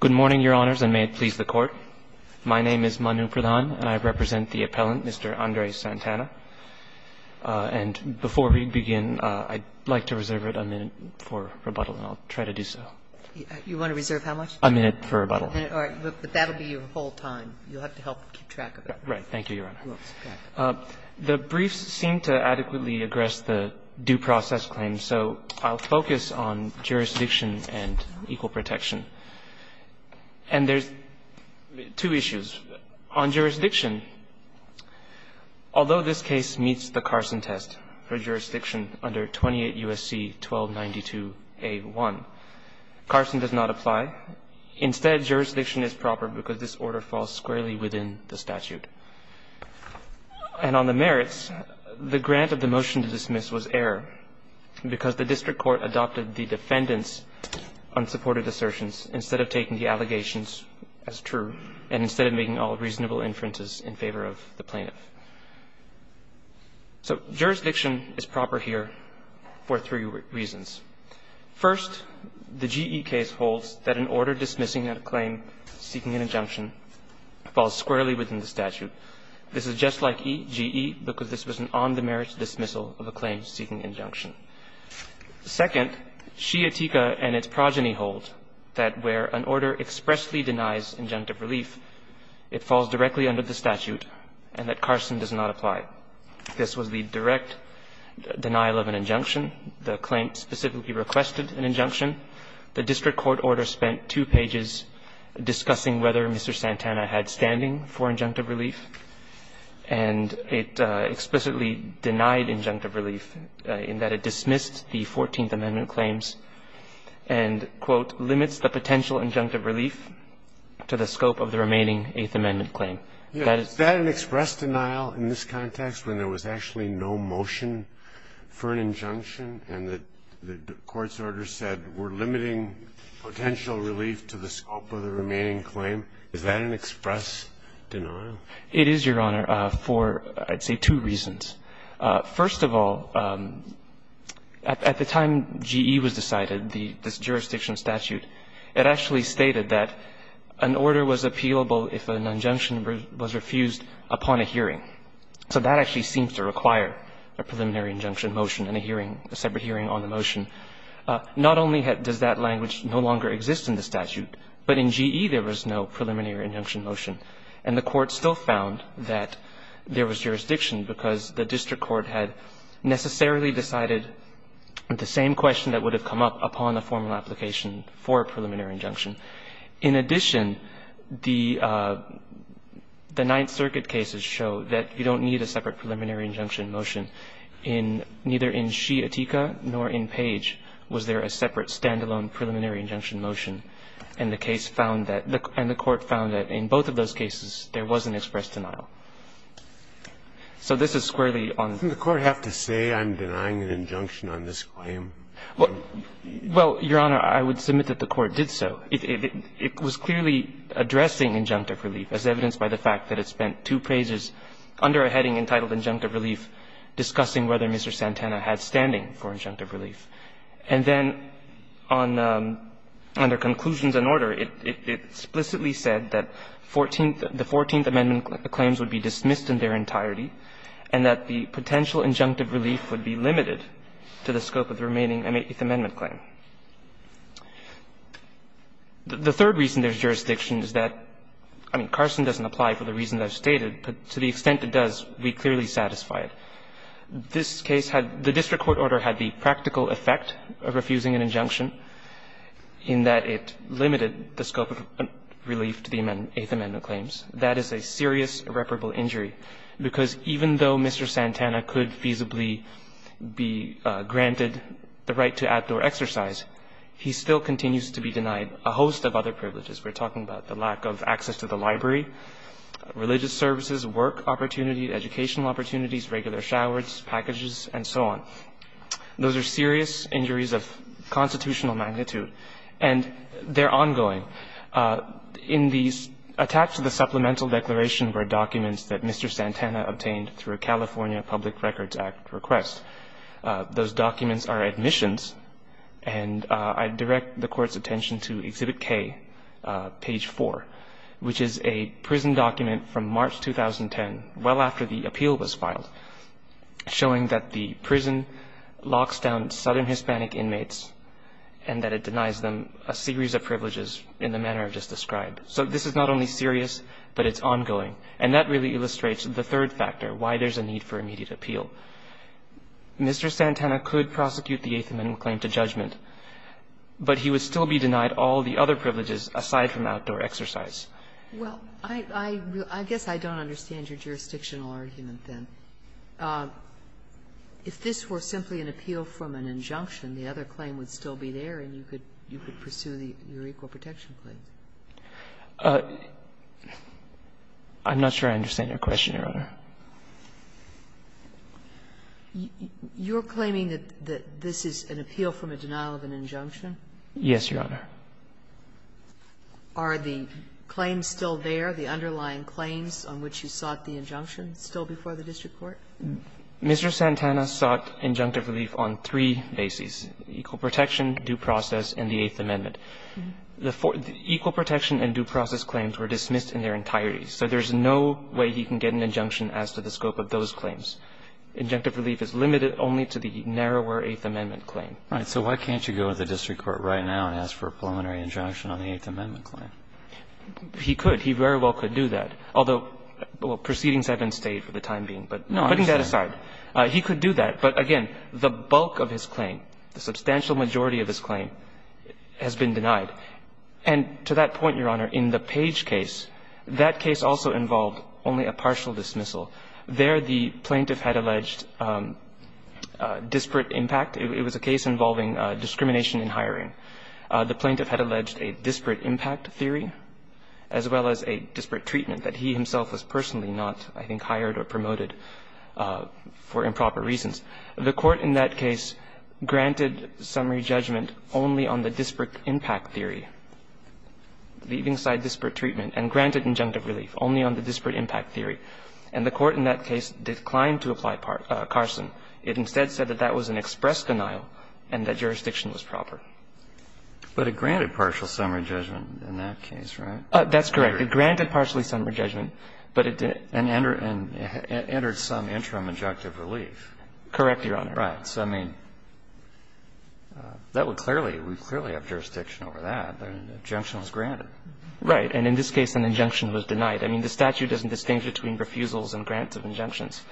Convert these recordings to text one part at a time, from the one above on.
Good morning, Your Honors, and may it please the court. My name is Manu Pradhan, and I represent the appellant, Mr. Andres Santana. And before we begin, I'd like to reserve a minute for rebuttal, and I'll try to do so. You want to reserve how much? A minute for rebuttal. All right. But that'll be your whole time. You'll have to help keep track of it. Right. Thank you, Your Honor. The briefs seem to adequately address the due process claim, so I'll focus on jurisdiction and equal protection. And there's two issues. On jurisdiction, although this case meets the Carson test for jurisdiction under 28 U.S.C. 1292A1, Carson does not apply. Instead, jurisdiction is proper because this order falls squarely within the statute. And on the merits, the grant of the motion to dismiss was error because the district court adopted the defendant's unsupported assertions instead of taking the allegations as true and instead of making all reasonable inferences in favor of the plaintiff. So jurisdiction is proper here for three reasons. First, the GE case holds that an order dismissing a claim seeking an injunction falls squarely within the statute. This is just like EGE because this was an on-the-merits dismissal of a claim seeking injunction. Second, Shiatika and its progeny hold that where an order expressly denies injunctive relief, it falls directly under the statute and that Carson does not apply. This was the direct denial of an injunction. The claim specifically requested an injunction. The district court order spent two pages discussing whether Mr. Santana had standing for injunctive relief, and it explicitly denied injunctive relief in that it dismissed the Fourteenth Amendment claims and, quote, limits the potential injunctive relief to the scope of the remaining Eighth Amendment claim. Is that an express denial in this context when there was actually no motion for an injunction and the court's order said we're limiting potential relief to the scope of the remaining claim? Is that an express denial? It is, Your Honor, for, I'd say, two reasons. First of all, at the time GE was decided, this jurisdiction statute, it actually stated that an order was appealable if an injunction was refused upon a hearing. So that actually seems to require a preliminary injunction motion and a hearing, a separate hearing on the motion. Not only does that language no longer exist in the statute, but in GE there was no preliminary injunction motion. And the Court still found that there was jurisdiction because the district court had necessarily decided the same question that would have come up upon a formal application for a preliminary injunction. In addition, the Ninth Circuit cases show that you don't need a separate preliminary injunction motion. In neither in Shea-Attika nor in Page was there a separate stand-alone preliminary injunction motion. And the case found that, and the Court found that in both of those cases there was an express denial. So this is squarely on. Didn't the Court have to say I'm denying an injunction on this claim? Well, Your Honor, I would submit that the Court did so. It was clearly addressing injunctive relief, as evidenced by the fact that it spent two praises under a heading entitled injunctive relief discussing whether Mr. Santana had standing for injunctive relief. And then on under conclusions and order, it explicitly said that 14th, the 14th Amendment claims would be dismissed in their entirety and that the potential injunctive relief would be limited to the scope of the remaining Eighth Amendment claim. The third reason there's jurisdiction is that, I mean, Carson doesn't apply for the reason that I've stated, but to the extent it does, we clearly satisfy it. This case had the district court order had the practical effect of refusing an injunction in that it limited the scope of relief to the Eighth Amendment claims. That is a serious irreparable injury, because even though Mr. Santana could feasibly be granted the right to outdoor exercise, he still continues to be denied a host of other privileges. We're talking about the lack of access to the library, religious services, work opportunities, educational opportunities, regular showers, packages, and so on. Those are serious injuries of constitutional magnitude, and they're ongoing. In the attached to the supplemental declaration were documents that Mr. Santana obtained through a California Public Records Act request. Those documents are admissions, and I direct the Court's attention to Exhibit K, page 4, which is a prison document from March 2010, well after the appeal was filed, showing that the prison locks down Southern Hispanic inmates and that it denies them a series of privileges in the manner just described. So this is not only serious, but it's ongoing, and that really illustrates the third factor, why there's a need for immediate appeal. Mr. Santana could prosecute the Eighth Amendment claim to judgment, but he would still be denied all the other privileges aside from outdoor exercise. Well, I guess I don't understand your jurisdictional argument, then. If this were simply an appeal from an injunction, the other claim would still be there and you could pursue your equal protection claim. I'm not sure I understand your question, Your Honor. You're claiming that this is an appeal from a denial of an injunction? Yes, Your Honor. Are the claims still there, the underlying claims on which you sought the injunction still before the district court? Mr. Santana sought injunctive relief on three bases, equal protection, due process, and the Eighth Amendment. The equal protection and due process claims were dismissed in their entirety, so there's no way he can get an injunction as to the scope of those claims. Injunctive relief is limited only to the narrower Eighth Amendment claim. Right. So why can't you go to the district court right now and ask for a preliminary injunction on the Eighth Amendment claim? He could. He very well could do that, although proceedings have been stayed for the time being. But putting that aside, he could do that. But again, the bulk of his claim, the substantial majority of his claim, has been denied. And to that point, Your Honor, in the Page case, that case also involved only a partial dismissal. There the plaintiff had alleged disparate impact. It was a case involving discrimination in hiring. The plaintiff had alleged a disparate impact theory as well as a disparate treatment that he himself was personally not, I think, hired or promoted for improper reasons. The court in that case granted summary judgment only on the disparate impact theory, leaving aside disparate treatment, and granted injunctive relief only on the disparate impact theory. And the court in that case declined to apply Carson. It instead said that that was an express denial and that jurisdiction was proper. But it granted partial summary judgment in that case, right? That's correct. It granted partially summary judgment, but it didn't. And entered some interim injunctive relief. Correct, Your Honor. Right. So, I mean, that would clearly – we clearly have jurisdiction over that. An injunction was granted. Right. And in this case, an injunction was denied. I mean, the statute doesn't distinguish between refusals and grants of injunctions.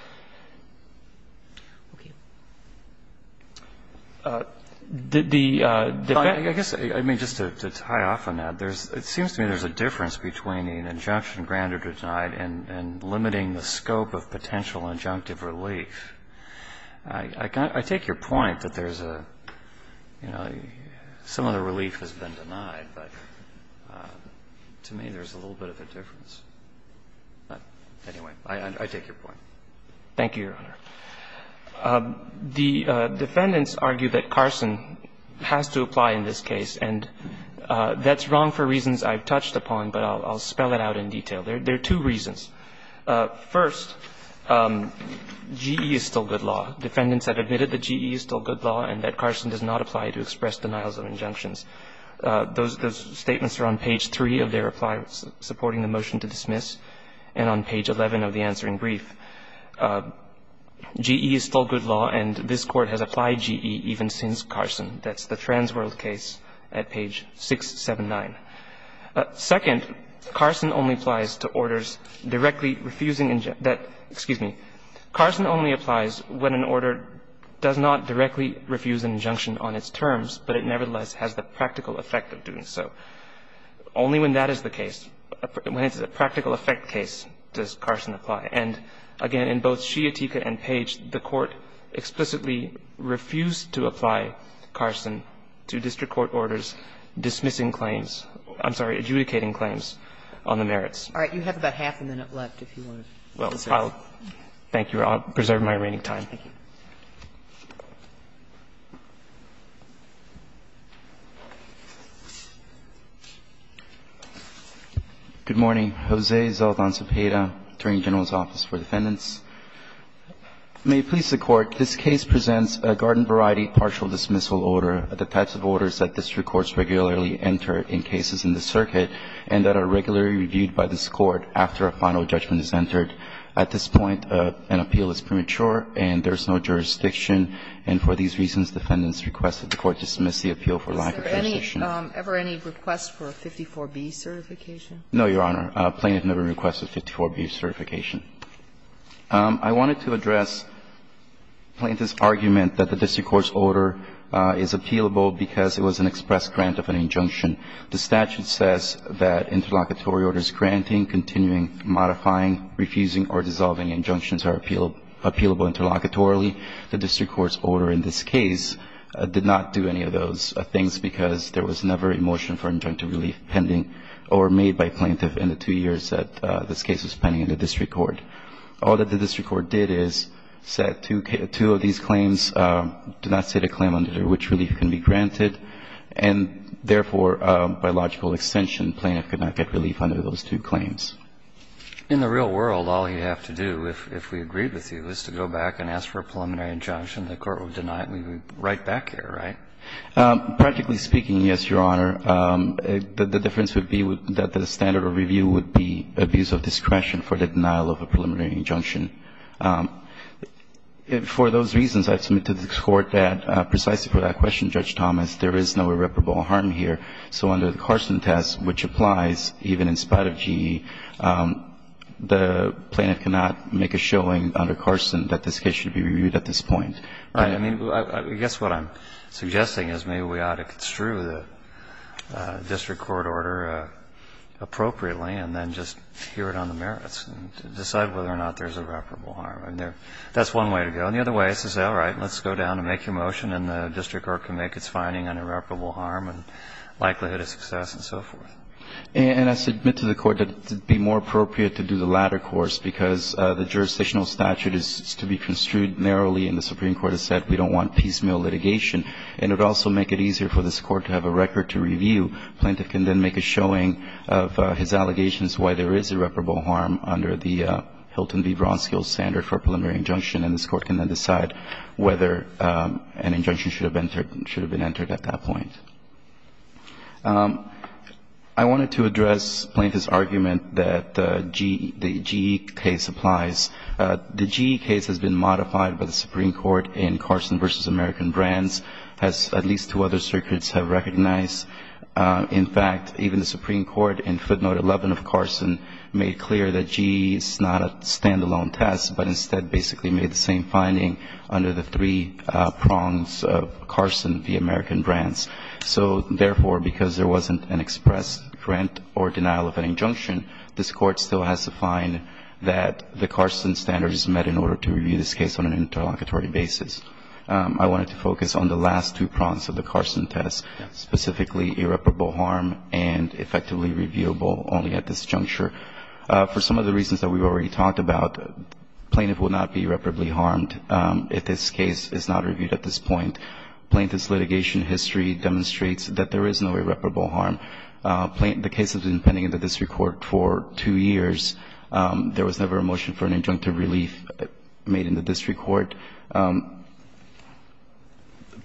Did the defense – I guess, I mean, just to tie off on that, there's – it seems to me there's a difference between an injunction granted or denied and limiting the scope of potential injunctive relief. I take your point that there's a – you know, some of the relief has been denied, but to me there's a little bit of a difference. But anyway, I take your point. Thank you, Your Honor. The defendants argue that Carson has to apply in this case, and that's wrong for reasons I've touched upon, but I'll spell it out in detail. There are two reasons. First, GE is still good law. Defendants have admitted that GE is still good law and that Carson does not apply to express denials of injunctions. Those statements are on page 3 of their reply supporting the motion to dismiss and on page 11 of the answering brief. GE is still good law, and this Court has applied GE even since Carson. That's the Transworld case at page 679. Second, Carson only applies to orders directly refusing – excuse me. Carson only applies when an order does not directly refuse an injunction on its terms, but it nevertheless has the practical effect of doing so. Only when that is the case, when it's a practical effect case, does Carson apply. And again, in both Sciatica and Page, the Court explicitly refused to apply Carson to district court orders dismissing claims – I'm sorry, adjudicating claims on the merits. All right. You have about half a minute left if you want to. Well, I'll thank you. I'll preserve my remaining time. Thank you. Good morning. Jose Zaldan Zepeda, Attorney General's Office for Defendants. May it please the Court. This case presents a garden-variety partial dismissal order, the types of orders that district courts regularly enter in cases in the circuit and that are regularly reviewed by this Court after a final judgment is entered. At this point, an appeal is premature and there is no jurisdiction, and for these reasons, defendants request that the Court dismiss the appeal for lack of jurisdiction. Is there any – ever any request for a 54B certification? No, Your Honor. Plaintiff never requested a 54B certification. I wanted to address plaintiff's argument that the district court's order is appealable because it was an express grant of an injunction. The statute says that interlocutory orders granting, continuing, modifying, refusing, or dissolving injunctions are appealable interlocutorily. The district court's order in this case did not do any of those things because there was never a motion for injunctive relief pending or made by plaintiff in the two years that this case was pending in the district court. All that the district court did is said two of these claims do not state a claim under which relief can be granted, and therefore, by logical extension, plaintiff could not get relief under those two claims. In the real world, all you have to do, if we agreed with you, is to go back and ask for a preliminary injunction, the Court would deny it and we would write back here, right? Practically speaking, yes, Your Honor. The difference would be that the standard of review would be abuse of discretion for the denial of a preliminary injunction. For those reasons, I submit to the court that precisely for that question, Judge Thomas, there is no irreparable harm here, so under the Carson test, which applies even in spite of GE, the plaintiff cannot make a showing under Carson that this case should be reviewed at this point. Right. I mean, I guess what I'm suggesting is maybe we ought to construe the district court order appropriately and then just hear it on the merits and decide whether or not there's irreparable harm. I mean, that's one way to go. And the other way is to say, all right, let's go down and make a motion and the district court can make its finding on irreparable harm and likelihood of success and so forth. And I submit to the court that it would be more appropriate to do the latter course because the jurisdictional statute is to be construed narrowly and the Supreme Court has said we don't want piecemeal litigation. And it would also make it easier for this court to have a record to review. Plaintiff can then make a showing of his allegations why there is irreparable harm under the Hilton v. Bronskill standard for preliminary injunction. And this court can then decide whether an injunction should have been entered at that point. I wanted to address Plaintiff's argument that the GE case applies. The GE case has been modified by the Supreme Court in Carson v. American Brands as at least two other circuits have recognized. In fact, even the Supreme Court in footnote 11 of Carson made clear that GE is not a stand-alone test but instead basically made the same finding under the three prongs of Carson v. American Brands. So, therefore, because there wasn't an express grant or denial of an injunction, this court still has to find that the Carson standards met in order to review this case on an interlocutory basis. I wanted to focus on the last two prongs of the Carson test, specifically irreparable harm and effectively reviewable only at this juncture. For some of the reasons that we've already talked about, Plaintiff will not be irreparably harmed if this case is not reviewed at this point. Plaintiff's litigation history demonstrates that there is no irreparable harm. The case has been pending in the district court for two years. There was never a motion for an injunctive relief made in the district court.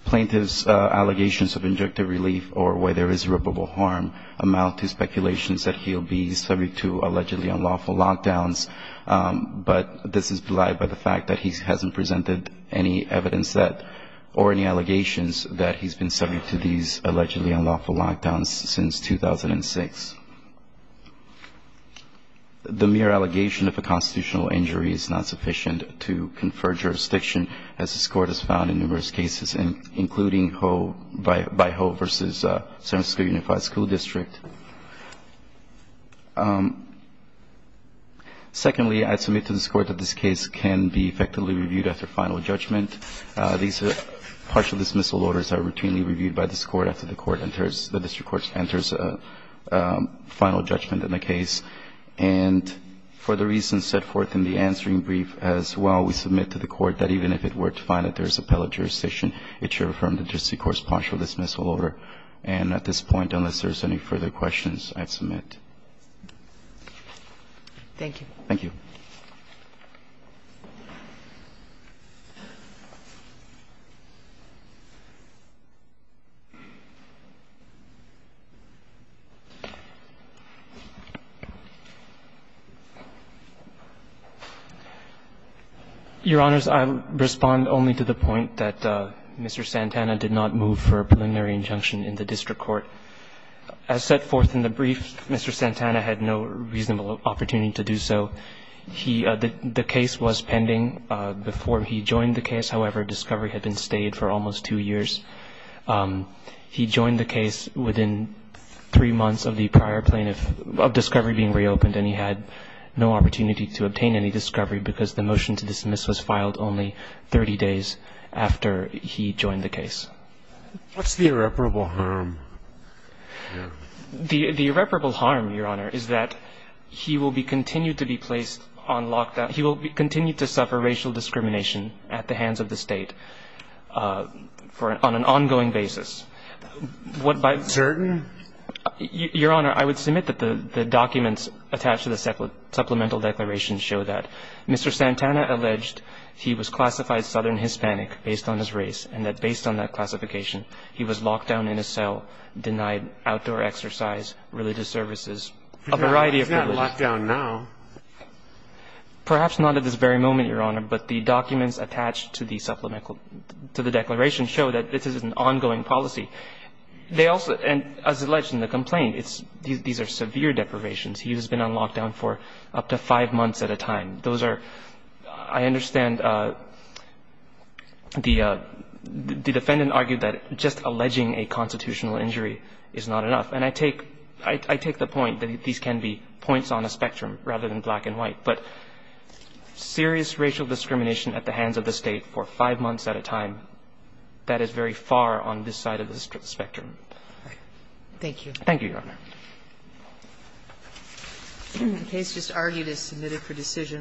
Plaintiff's allegations of injunctive relief or where there is irreparable harm amount to speculations that he'll be subject to allegedly unlawful lockdowns, but this is not the first time that Plaintiff has presented any evidence that or any allegations that he's been subject to these allegedly unlawful lockdowns since 2006. The mere allegation of a constitutional injury is not sufficient to confer jurisdiction as this court has found in numerous cases, including by Ho versus San Francisco Unified School District. Secondly, I submit to this court that this case can be effectively reviewed after final judgment. These partial dismissal orders are routinely reviewed by this court after the court enters, the district court enters final judgment in the case. And for the reasons set forth in the answering brief as well, we submit to the court that even if it were to find that there is appellate jurisdiction, it should affirm the district court's partial dismissal order. If there are no further questions, I submit. Thank you. Thank you. Your Honors, I'll respond only to the point that Mr. Santana did not move for a preliminary injunction in the district court. As set forth in the brief, Mr. Santana had no reasonable opportunity to do so. He, the case was pending before he joined the case. However, discovery had been stayed for almost two years. He joined the case within three months of the prior plaintiff of discovery being reopened and he had no opportunity to obtain any discovery because the motion to dismiss was filed only 30 days after he joined the case. What's the irreparable harm here? The irreparable harm, Your Honor, is that he will be continued to be placed on lockdown. He will continue to suffer racial discrimination at the hands of the State for an ongoing basis. What by certain? Your Honor, I would submit that the documents attached to the supplemental declaration show that. Mr. Santana alleged he was classified Southern Hispanic based on his race and that classification. He was locked down in a cell, denied outdoor exercise, religious services, a variety of. He's not locked down now. Perhaps not at this very moment, Your Honor, but the documents attached to the supplemental to the declaration show that this is an ongoing policy. They also, and as alleged in the complaint, it's these are severe deprivations. He has been on lockdown for up to five months at a time. Those are, I understand. And the defendant argued that just alleging a constitutional injury is not enough. And I take the point that these can be points on a spectrum rather than black and white. But serious racial discrimination at the hands of the State for five months at a time, that is very far on this side of the spectrum. Thank you. Thank you, Your Honor. The case just argued is submitted for decision.